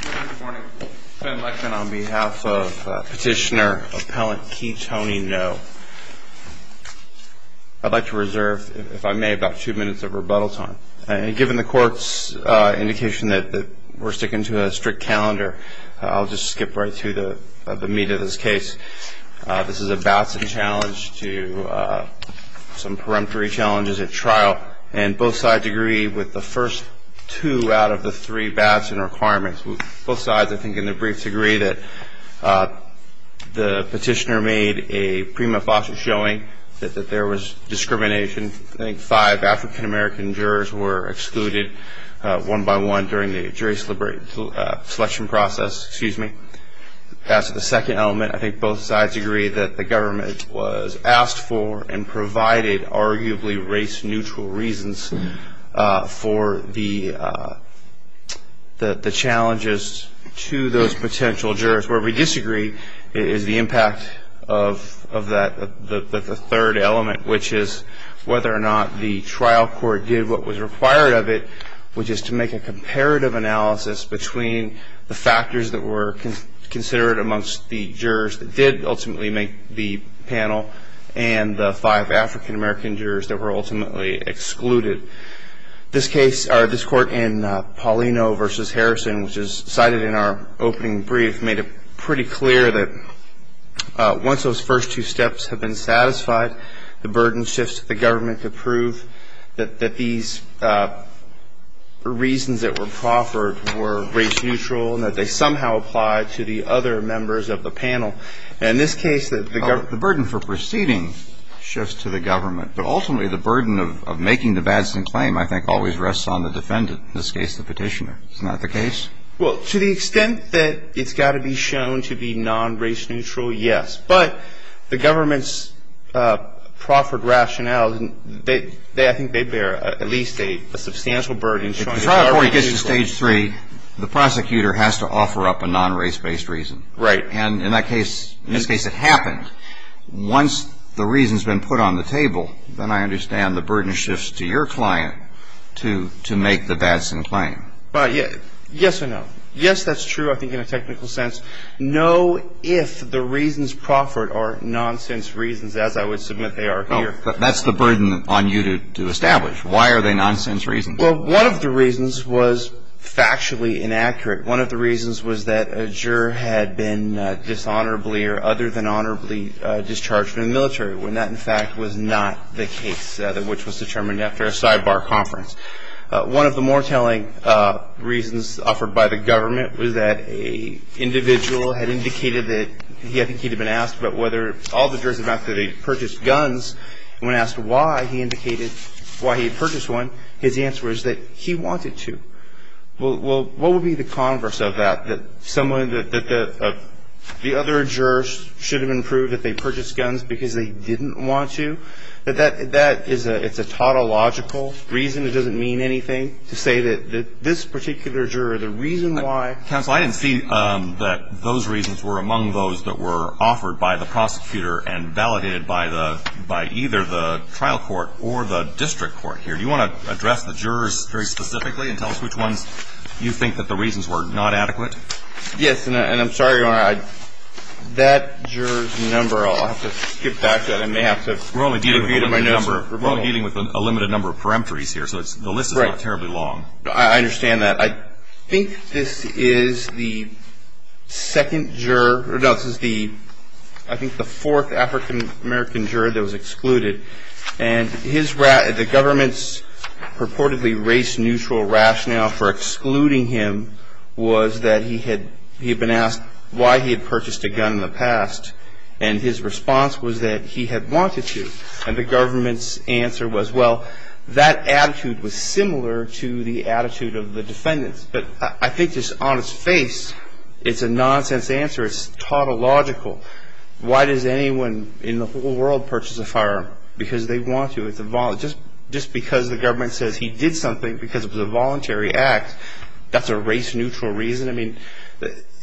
Good morning. Ben Lechman on behalf of Petitioner Appellant Key Tony Ngo. I'd like to reserve, if I may, about two minutes of rebuttal time. And given the Court's indication that we're sticking to a strict calendar, I'll just skip right through the meat of this case. This is a Batson challenge to some peremptory challenges at trial, and both sides agree with the first two out of the three Batson requirements. Both sides, I think, in their briefs, agree that the petitioner made a prima facie showing that there was discrimination. I think five African-American jurors were excluded one by one during the jury selection process. That's the second element. And I think both sides agree that the government was asked for and provided arguably race-neutral reasons for the challenges to those potential jurors. Where we disagree is the impact of the third element, which is whether or not the trial court did what was required of it, which is to make a comparative analysis between the factors that were considered amongst the jurors that did ultimately make the panel and the five African-American jurors that were ultimately excluded. This court in Paulino v. Harrison, which is cited in our opening brief, made it pretty clear that once those first two steps have been satisfied, the burden shifts to the government to prove that these reasons that were proffered were race-neutral and that they somehow applied to the other members of the panel. And in this case, the government ---- The burden for proceeding shifts to the government, but ultimately the burden of making the Batson claim, I think, always rests on the defendant, in this case the petitioner. Isn't that the case? Well, to the extent that it's got to be shown to be non-race-neutral, yes. But the government's proffered rationale, I think they bear at least a substantial burden. If the trial court gets to Stage 3, the prosecutor has to offer up a non-race-based reason. Right. And in that case, in this case it happened. Once the reason's been put on the table, then I understand the burden shifts to your client to make the Batson claim. Yes or no. Yes, that's true, I think, in a technical sense. No, if the reasons proffered are nonsense reasons, as I would submit they are here. Well, that's the burden on you to establish. Why are they nonsense reasons? Well, one of the reasons was factually inaccurate. One of the reasons was that a juror had been dishonorably or other than honorably discharged from the military, when that, in fact, was not the case which was determined after a sidebar conference. One of the more telling reasons offered by the government was that an individual had indicated that, I think he had been asked about whether all the jurors had purchased guns, and when asked why he had purchased one, his answer was that he wanted to. Well, what would be the converse of that? That the other jurors should have been proved that they purchased guns because they didn't want to? That is a tautological reason. It doesn't mean anything to say that this particular juror, the reason why. Counsel, I didn't see that those reasons were among those that were offered by the prosecutor and validated by either the trial court or the district court here. Do you want to address the jurors very specifically and tell us which ones you think that the reasons were not adequate? Yes, and I'm sorry, Your Honor, that juror's number, I'll have to skip back to it. We're only dealing with a limited number of peremptories here, so the list is not terribly long. I understand that. I think this is the second juror, no, this is the, I think the fourth African-American juror that was excluded, and the government's purportedly race-neutral rationale for excluding him was that he had been asked why he had purchased a gun in the past, and his response was that he had wanted to. And the government's answer was, well, that attitude was similar to the attitude of the defendants. But I think just on its face, it's a nonsense answer. It's tautological. Why does anyone in the whole world purchase a firearm? Because they want to. Just because the government says he did something because it was a voluntary act, that's a race-neutral reason? I mean,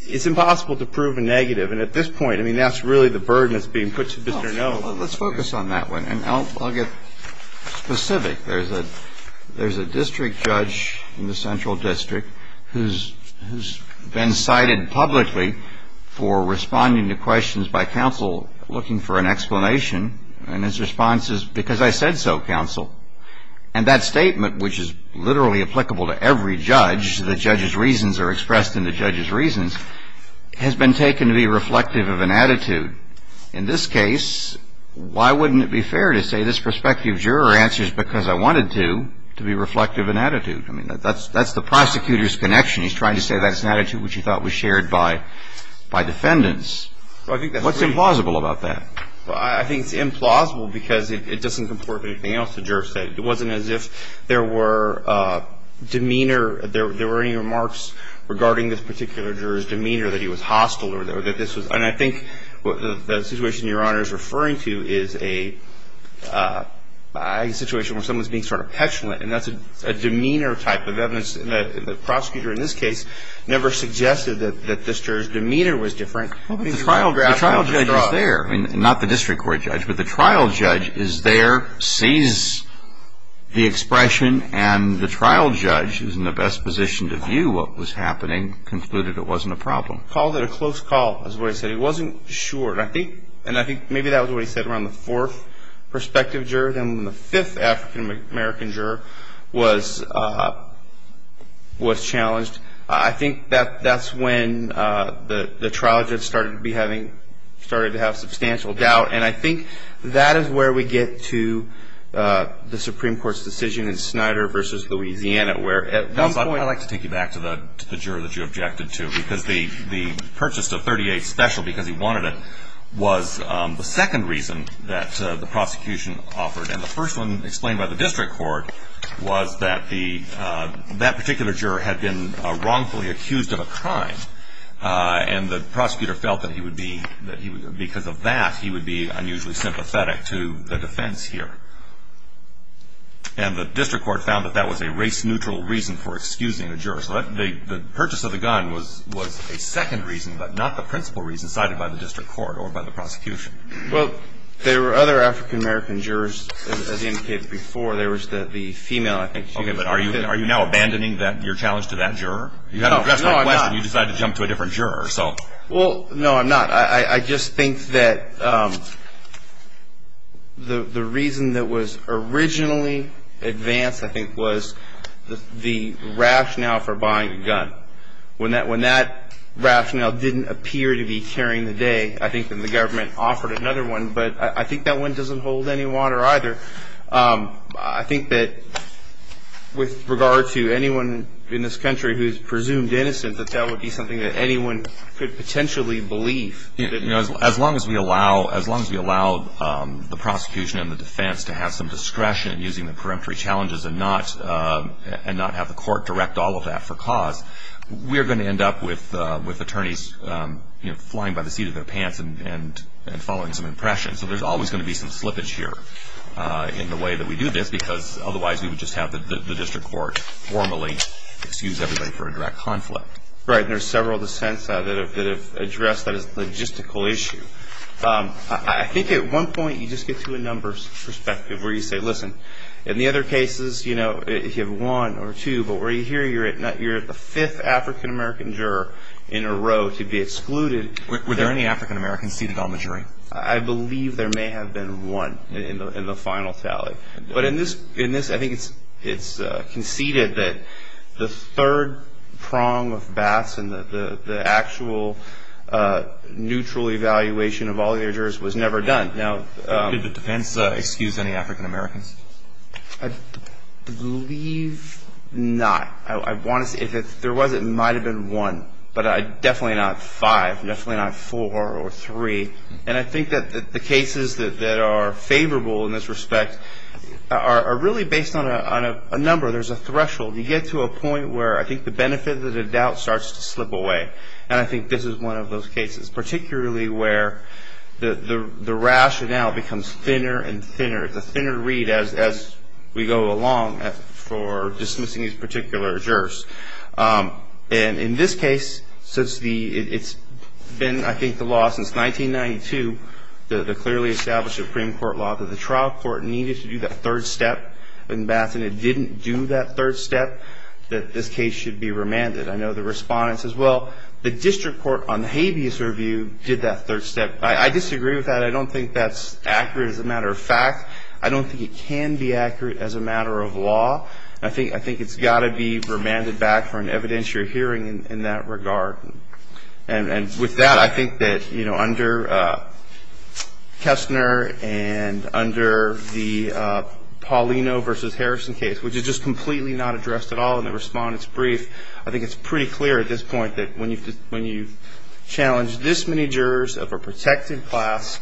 it's impossible to prove a negative, and at this point, I mean, that's really the burden that's being put to Mr. Noll. Let's focus on that one, and I'll get specific. There's a district judge in the Central District who's been cited publicly for responding to questions by counsel looking for an explanation, and his response is, because I said so, counsel. And that statement, which is literally applicable to every judge, the judge's reasons are expressed in the judge's reasons, has been taken to be reflective of an attitude. In this case, why wouldn't it be fair to say this prospective juror answers because I wanted to, to be reflective of an attitude? I mean, that's the prosecutor's connection. He's trying to say that's an attitude which he thought was shared by defendants. What's implausible about that? Well, I think it's implausible because it doesn't comport with anything else the juror said. It wasn't as if there were demeanor, there were any remarks regarding this particular juror's demeanor, that he was hostile or that this was, and I think the situation Your Honor is referring to is a situation where someone's being sort of petulant, and that's a demeanor type of evidence. The prosecutor in this case never suggested that this juror's demeanor was different. Well, but the trial judge is there. I mean, not the district court judge, but the trial judge is there, sees the expression, and the trial judge is in the best position to view what was happening, concluded it wasn't a problem. Called it a close call is what he said. He wasn't sure, and I think maybe that was what he said around the fourth prospective juror, then when the fifth African-American juror was challenged. I think that that's when the trial judge started to be having, started to have substantial doubt, and I think that is where we get to the Supreme Court's decision in Snyder v. Louisiana where at one point. I'd like to take you back to the juror that you objected to because the purchase of 38 special because he wanted it was the second reason that the prosecution offered, and the first one explained by the district court was that the, that particular juror had been wrongfully accused of a crime, and the prosecutor felt that he would be, because of that, he would be unusually sympathetic to the defense here. And the district court found that that was a race-neutral reason for excusing the juror. So the purchase of the gun was a second reason, but not the principal reason cited by the district court or by the prosecution. Well, there were other African-American jurors, as indicated before. There was the female, I think. Okay, but are you now abandoning your challenge to that juror? No, no, I'm not. You decided to jump to a different juror, so. Well, no, I'm not. I just think that the reason that was originally advanced, I think, was the rationale for buying a gun. When that rationale didn't appear to be carrying the day, I think that the government offered another one, but I think that one doesn't hold any water either. I think that with regard to anyone in this country who's presumed innocent, that that would be something that anyone could potentially believe. You know, as long as we allow, as long as we allow the prosecution and the defense to have some discretion in using the preemptory challenges and not have the court direct all of that for cause, we are going to end up with attorneys flying by the seat of their pants and following some impressions. So there's always going to be some slippage here in the way that we do this, because otherwise we would just have the district court formally excuse everybody for a direct conflict. Right, and there's several dissents that have addressed that as a logistical issue. I think at one point you just get to a numbers perspective where you say, listen, in the other cases, you know, if you have one or two, but where you're here, you're at the fifth African American juror in a row to be excluded. Were there any African Americans seated on the jury? I believe there may have been one in the final tally. But in this, I think it's conceded that the third prong of Bass and the actual neutral evaluation of all the other jurors was never done. Did the defense excuse any African Americans? I believe not. If there was, it might have been one, but definitely not five, definitely not four or three. And I think that the cases that are favorable in this respect are really based on a number. There's a threshold. You get to a point where I think the benefit of the doubt starts to slip away. And I think this is one of those cases, particularly where the rationale becomes thinner and thinner. It's a thinner read as we go along for dismissing these particular jurors. And in this case, it's been, I think, the law since 1992, the clearly established Supreme Court law, that the trial court needed to do that third step in Bass, and it didn't do that third step that this case should be remanded. I know the respondents as well. The district court on the habeas review did that third step. I disagree with that. I don't think that's accurate as a matter of fact. I don't think it can be accurate as a matter of law. I think it's got to be remanded back for an evidentiary hearing in that regard. And with that, I think that, you know, under Kessner and under the Paulino v. Harrison case, which is just completely not addressed at all in the respondent's brief, I think it's pretty clear at this point that when you challenge this many jurors of a protected class,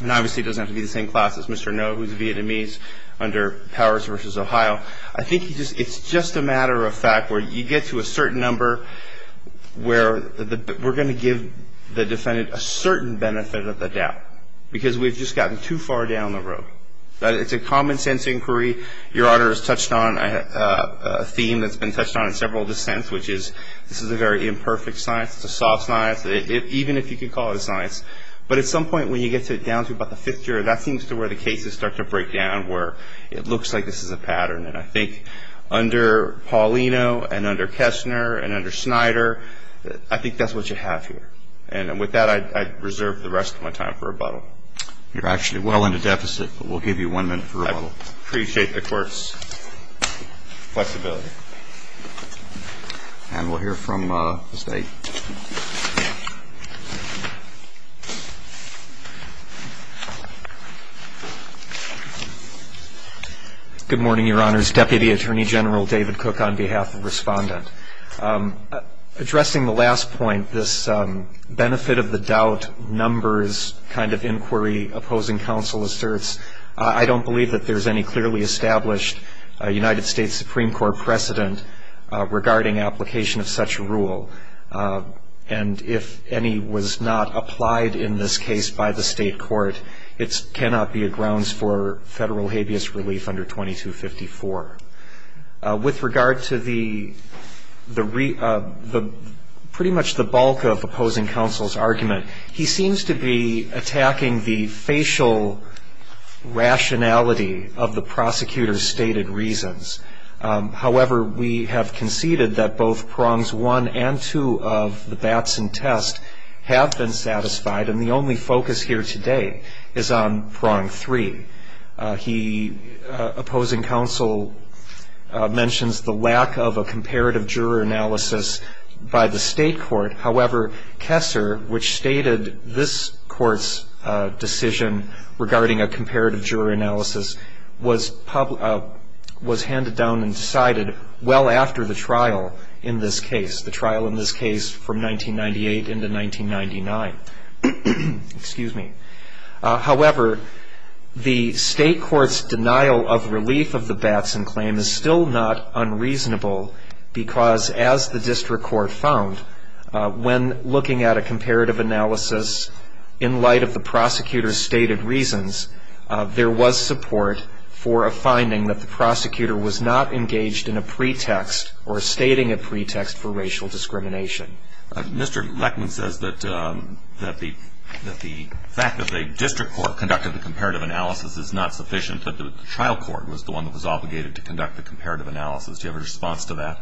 and obviously it doesn't have to be the same class as Mr. Noh who's Vietnamese under Powers v. Ohio, I think it's just a matter of fact where you get to a certain number where we're going to give the defendant a certain benefit of the doubt because we've just gotten too far down the road. It's a common sense inquiry. Your Honor has touched on a theme that's been touched on in several dissents, which is this is a very imperfect science. It's a soft science, even if you could call it a science. But at some point when you get down to about the fifth juror, that seems to where the cases start to break down where it looks like this is a pattern. And I think under Paulino and under Kessner and under Snyder, I think that's what you have here. And with that, I reserve the rest of my time for rebuttal. You're actually well into deficit, but we'll give you one minute for rebuttal. I appreciate the Court's flexibility. And we'll hear from the State. Good morning, Your Honors. Deputy Attorney General David Cook on behalf of Respondent. Addressing the last point, this benefit of the doubt numbers kind of inquiry opposing counsel asserts, I don't believe that there's any clearly established United States Supreme Court precedent regarding application of such a rule. And if any was not applied in this case by the state court, it cannot be a grounds for federal habeas relief under 2254. With regard to pretty much the bulk of opposing counsel's argument, he seems to be attacking the facial rationality of the prosecutor's stated reasons. However, we have conceded that both prongs one and two of the Batson test have been satisfied, and the only focus here today is on prong three. He, opposing counsel, mentions the lack of a comparative juror analysis by the state court. However, Kessler, which stated this court's decision regarding a comparative juror analysis, was handed down and decided well after the trial in this case, the trial in this case from 1998 into 1999. However, the state court's denial of relief of the Batson claim is still not unreasonable, because as the district court found, when looking at a comparative analysis in light of the prosecutor's stated reasons, there was support for a finding that the prosecutor was not engaged in a pretext or stating a pretext for racial discrimination. Mr. Leckman says that the fact that the district court conducted the comparative analysis is not sufficient, but the trial court was the one that was obligated to conduct the comparative analysis. Do you have a response to that?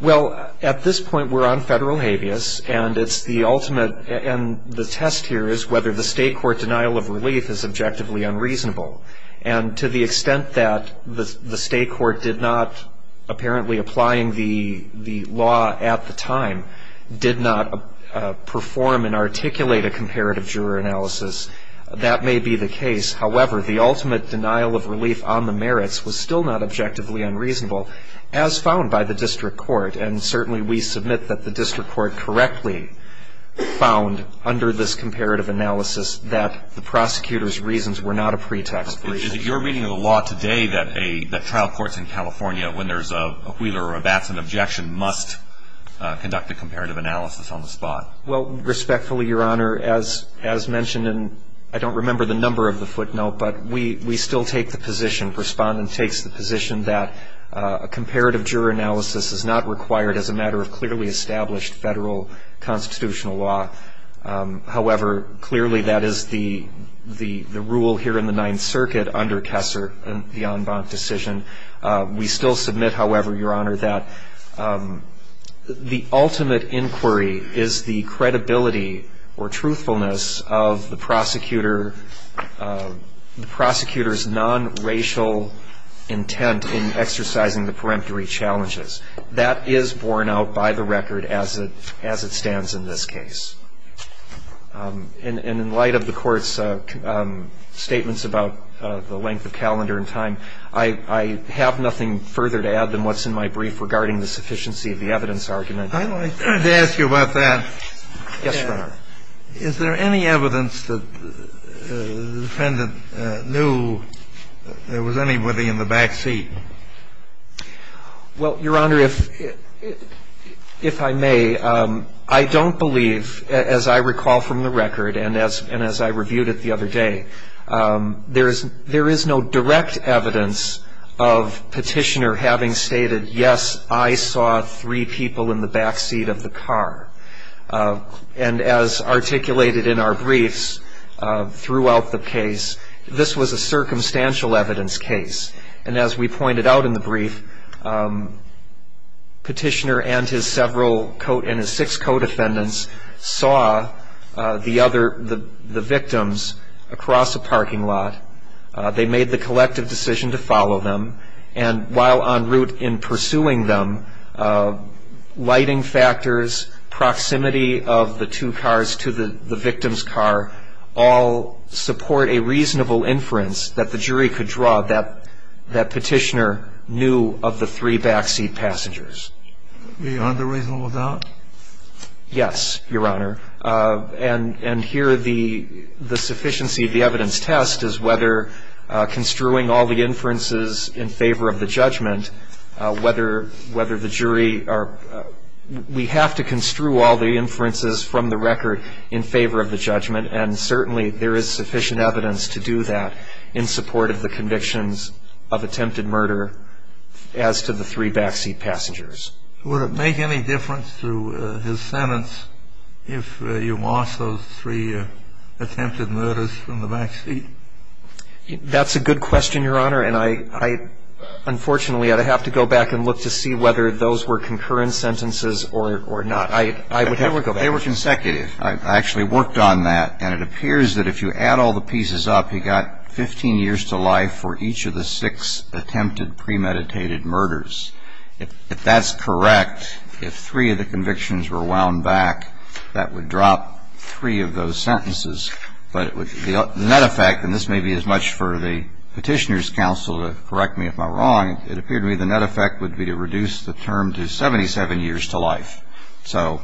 Well, at this point, we're on federal habeas, and it's the ultimate, and the test here is whether the state court denial of relief is objectively unreasonable. And to the extent that the state court did not, apparently applying the law at the time, did not perform and articulate a comparative juror analysis, that may be the case. However, the ultimate denial of relief on the merits was still not objectively unreasonable, as found by the district court. And certainly we submit that the district court correctly found under this comparative analysis that the prosecutor's reasons were not a pretext for racial discrimination. Is it your reading of the law today that trial courts in California, when there's a Wheeler or a Batson objection, must conduct a comparative analysis on the spot? Well, respectfully, Your Honor, as mentioned, and I don't remember the number of the footnote, but we still take the position, Respondent takes the position that a comparative juror analysis is not required as a matter of clearly established federal constitutional law. However, clearly that is the rule here in the Ninth Circuit under Kessler, the en banc decision. We still submit, however, Your Honor, that the ultimate inquiry is the credibility or truthfulness of the prosecutor's non-racial intent in exercising the peremptory challenges. That is borne out by the record as it stands in this case. And in light of the Court's statements about the length of calendar and time, I have nothing further to add than what's in my brief regarding the sufficiency of the evidence argument. I wanted to ask you about that. Yes, Your Honor. Is there any evidence that the defendant knew there was anybody in the back seat? Well, Your Honor, if I may, I don't believe, as I recall from the record, and as I reviewed it the other day, there is no direct evidence of Petitioner having stated, yes, I saw three people in the back seat of the car. And as articulated in our briefs throughout the case, this was a circumstantial evidence case. And as we pointed out in the brief, Petitioner and his six co-defendants saw the victims across a parking lot. They made the collective decision to follow them. And while en route in pursuing them, lighting factors, proximity of the two cars to the victim's car, all support a reasonable inference that the jury could draw that Petitioner knew of the three back seat passengers. Beyond a reasonable doubt? Yes, Your Honor. And here the sufficiency of the evidence test is whether construing all the inferences in favor of the judgment, whether the jury are we have to construe all the inferences from the record in favor of the judgment. And certainly there is sufficient evidence to do that in support of the convictions of attempted murder as to the three back seat passengers. Would it make any difference to his sentence if you lost those three attempted murders from the back seat? That's a good question, Your Honor. And I, unfortunately, I'd have to go back and look to see whether those were concurrent sentences or not. They were consecutive. I actually worked on that. And it appears that if you add all the pieces up, you got 15 years to life for each of the six attempted premeditated murders. If that's correct, if three of the convictions were wound back, that would drop three of those sentences. But the net effect, and this may be as much for the Petitioner's counsel to correct me if I'm wrong, it appeared to me the net effect would be to reduce the term to 77 years to life. So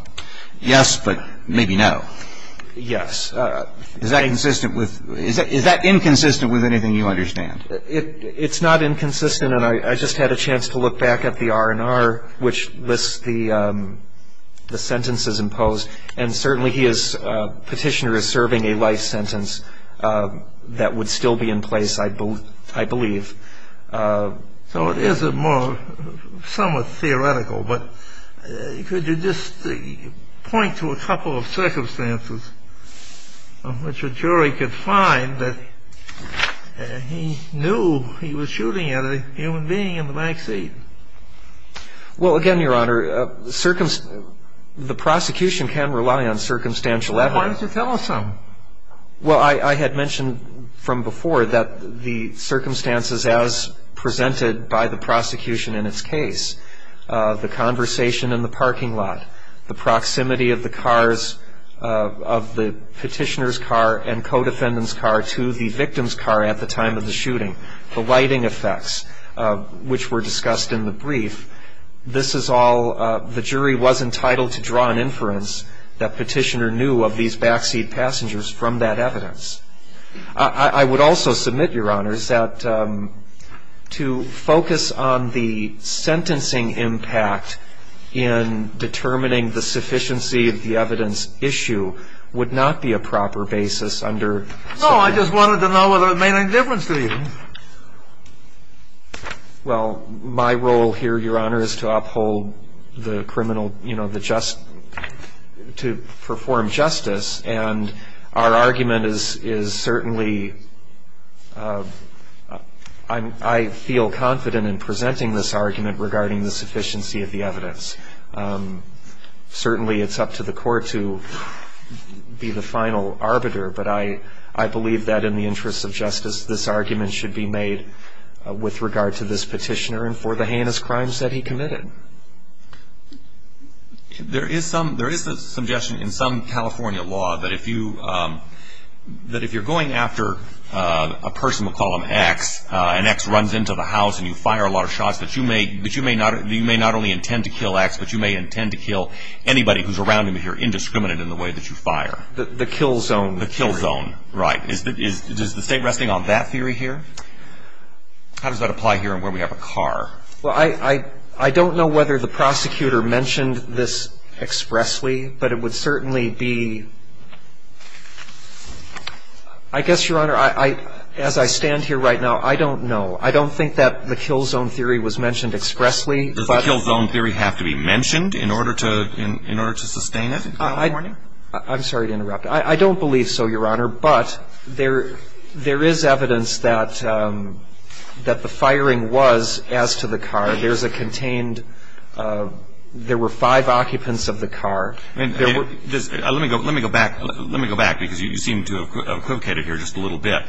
yes, but maybe no. Yes. Is that inconsistent with anything you understand? It's not inconsistent. And I just had a chance to look back at the R&R, which lists the sentences imposed. And certainly Petitioner is serving a life sentence that would still be in place, I believe. So it is somewhat theoretical. But could you just point to a couple of circumstances in which a jury could find that he knew he was shooting at a human being in the back seat? Well, again, Your Honor, the prosecution can rely on circumstantial evidence. Why don't you tell us some? Well, I had mentioned from before that the circumstances as presented by the prosecution in its case, the conversation in the parking lot, the proximity of the Petitioner's car and co-defendant's car to the victim's car at the time of the shooting, the lighting effects, which were discussed in the brief, this is all the jury was entitled to draw an inference that Petitioner knew of these backseat passengers from that evidence. I would also submit, Your Honors, that to focus on the sentencing impact in determining the sufficiency of the evidence issue would not be a proper basis under ______. No, I just wanted to know whether it made any difference to you. Well, my role here, Your Honor, is to uphold the criminal, you know, the just, to perform justice. And our argument is certainly, I feel confident in presenting this argument regarding the sufficiency of the evidence. Certainly, it's up to the court to be the final arbiter. But I believe that in the interest of justice, this argument should be made with regard to this Petitioner and for the heinous crimes that he committed. There is a suggestion in some California law that if you're going after a person, we'll call him X, and X runs into the house and you fire a lot of shots, that you may not only intend to kill X, but you may intend to kill anybody who's around him if you're indiscriminate in the way that you fire. The kill zone. The kill zone. Right. Is the State resting on that theory here? How does that apply here where we have a car? Well, I don't know whether the prosecutor mentioned this expressly, but it would certainly be ______. I guess, Your Honor, as I stand here right now, I don't know. I don't think that the kill zone theory was mentioned expressly. Does the kill zone theory have to be mentioned in order to sustain it in California? I'm sorry to interrupt. I don't believe so, Your Honor, but there is evidence that the firing was as to the car. There's a contained ______. There were five occupants of the car. Let me go back because you seem to have equivocated here just a little bit.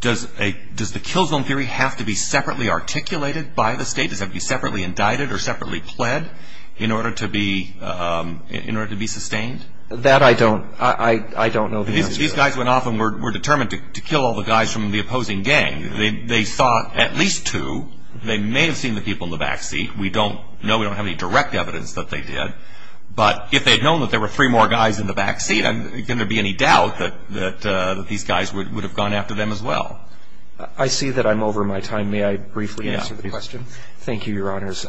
Does the kill zone theory have to be separately articulated by the State? Does it have to be separately indicted or separately pled in order to be sustained? That I don't know. These guys went off and were determined to kill all the guys from the opposing gang. They saw at least two. They may have seen the people in the back seat. We don't know. We don't have any direct evidence that they did. But if they'd known that there were three more guys in the back seat, can there be any doubt that these guys would have gone after them as well? I see that I'm over my time. May I briefly answer the question? Yeah. Thank you, Your Honors.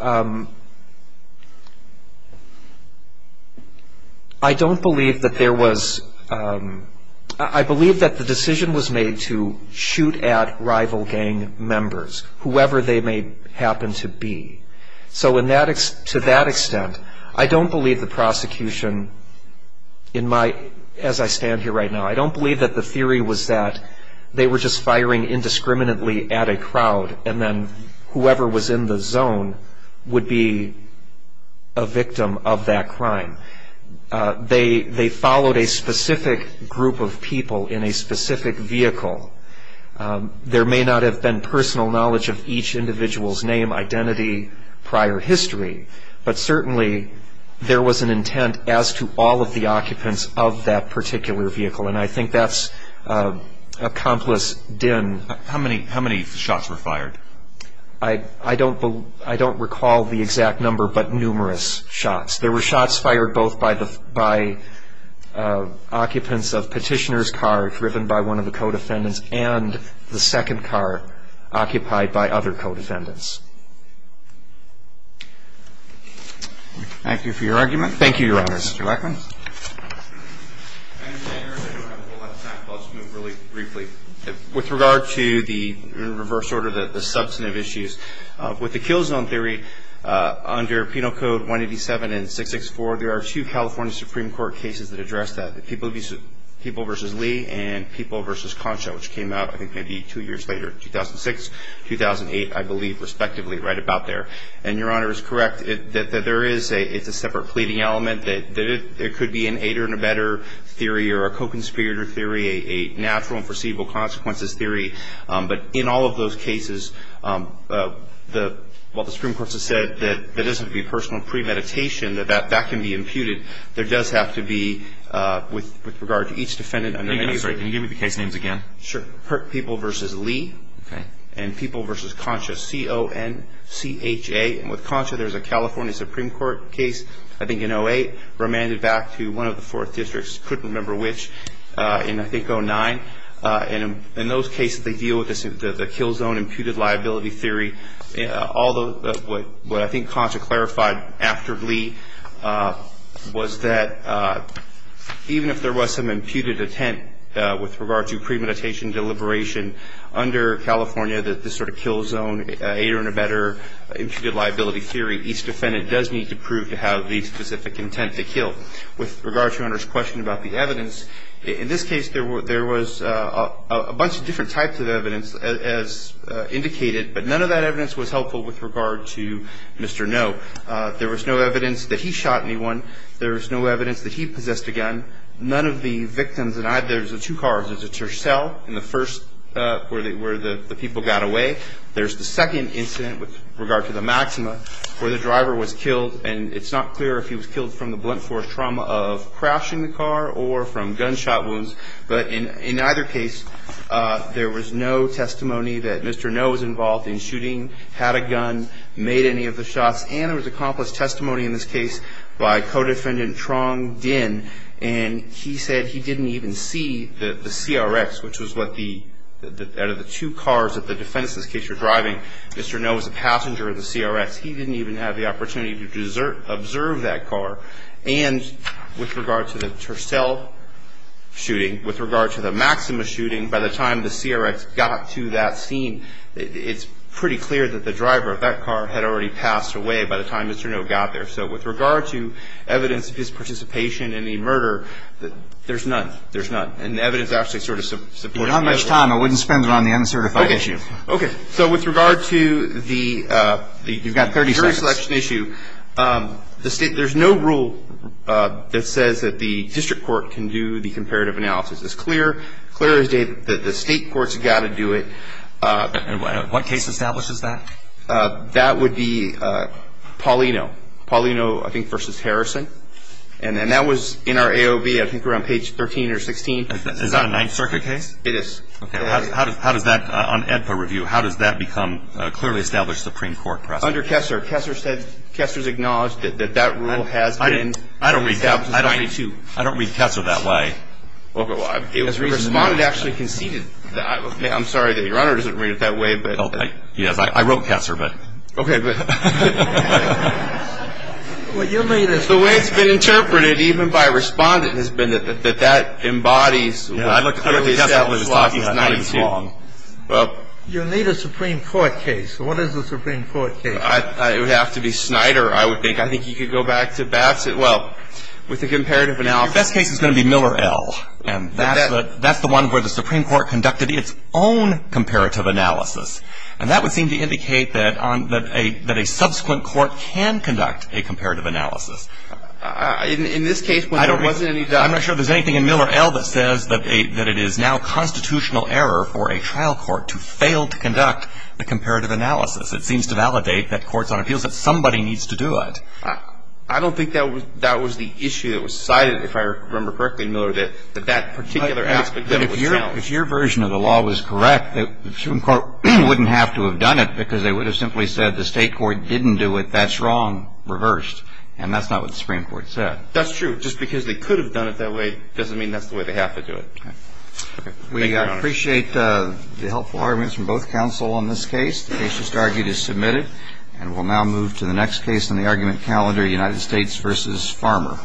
I don't believe that there was ______. I believe that the decision was made to shoot at rival gang members, whoever they may happen to be. So to that extent, I don't believe the prosecution, as I stand here right now, I don't believe that the theory was that they were just firing indiscriminately at a crowd and then whoever was in the zone would be a victim of that crime. They followed a specific group of people in a specific vehicle. There may not have been personal knowledge of each individual's name, identity, prior history, but certainly there was an intent as to all of the occupants of that particular vehicle, and I think that's accomplice din. How many shots were fired? I don't recall the exact number, but numerous shots. There were shots fired both by occupants of Petitioner's car driven by one of the co-defendants and the second car occupied by other co-defendants. Thank you, Your Honors. Mr. Lackman? I don't have a whole lot of time, so I'll just move really briefly. With regard to the reverse order, the substantive issues, with the kill zone theory under Penal Code 187 and 664, there are two California Supreme Court cases that address that, the People v. Lee and People v. Concha, which came out I think maybe two years later, 2006, 2008, I believe, respectively, right about there. And Your Honor is correct that there is a separate pleading element, that it could be an aider and abetter theory or a co-conspirator theory, a natural and foreseeable consequences theory. But in all of those cases, while the Supreme Court has said that it doesn't have to be personal premeditation, that that can be imputed, there does have to be, with regard to each defendant under that case. Can you give me the case names again? Sure. With regard to People v. Lee and People v. Concha, C-O-N-C-H-A, and with Concha there's a California Supreme Court case, I think in 2008, remanded back to one of the fourth districts, couldn't remember which, in I think 2009. In those cases they deal with the kill zone imputed liability theory. What I think Concha clarified after Lee was that even if there was some imputed intent with regard to premeditation deliberation under California, that this sort of kill zone aider and abetter imputed liability theory, each defendant does need to prove to have the specific intent to kill. With regard to Your Honor's question about the evidence, in this case there was a bunch of different types of evidence as indicated, but none of that evidence was helpful with regard to Mr. No. There was no evidence that he shot anyone. There was no evidence that he possessed a gun. None of the victims, and there's two cars. There's a Tercel in the first where the people got away. There's the second incident with regard to the Maxima where the driver was killed, and it's not clear if he was killed from the blunt force trauma of crashing the car or from gunshot wounds. But in either case there was no testimony that Mr. No. was involved in shooting, had a gun, made any of the shots, and there was accomplished testimony in this case by Codefendant Trong Dinh, and he said he didn't even see the CRX, which was what the two cars that the defense in this case were driving. Mr. No. was a passenger of the CRX. He didn't even have the opportunity to observe that car. And with regard to the Tercel shooting, with regard to the Maxima shooting, by the time the CRX got to that scene, it's pretty clear that the driver of that car had already passed away by the time Mr. No. got there. So with regard to evidence of his participation in the murder, there's none. There's none. And the evidence actually sort of supports that. Without much time, I wouldn't spend it on the uncertified issue. Okay. So with regard to the jury selection issue, there's no rule that says that the district court can do the comparative analysis. It's clear. It's clear as day that the state court's got to do it. And what case establishes that? That would be Paulino. Paulino, I think, versus Harrison. And that was in our AOV. I think we're on page 13 or 16. Is that a Ninth Circuit case? It is. Okay. How does that, on AEDPA review, how does that become a clearly established Supreme Court precedent? Under Kessler. Kessler said, Kessler's acknowledged that that rule has been established. I don't read Kessler that way. Well, the Respondent actually conceded that. I'm sorry that Your Honor doesn't read it that way. Yes, I wrote Kessler, but. Okay. What you mean is the way it's been interpreted, even by Respondent, has been that that embodies. I don't think Kessler is wrong. You need a Supreme Court case. What is the Supreme Court case? It would have to be Snyder, I would think. I think you could go back to Bassett. Well, with the comparative analysis. The best case is going to be Miller L., and that's the one where the Supreme Court conducted its own comparative analysis. And that would seem to indicate that a subsequent court can conduct a comparative analysis. In this case, when there wasn't any doubt. I'm not sure there's anything in Miller L. that says that it is now constitutional error for a trial court to fail to conduct a comparative analysis. It seems to validate that courts on appeals that somebody needs to do it. I don't think that was the issue that was cited, if I remember correctly, Miller, that that particular aspect of it was challenged. If your version of the law was correct, the Supreme Court wouldn't have to have done it because they would have simply said the state court didn't do it, that's wrong, reversed. And that's not what the Supreme Court said. That's true. Just because they could have done it that way doesn't mean that's the way they have to do it. Okay. Thank you, Your Honor. We appreciate the helpful arguments from both counsel on this case. The case just argued is submitted. And we'll now move to the next case in the argument calendar, United States v. Farmer.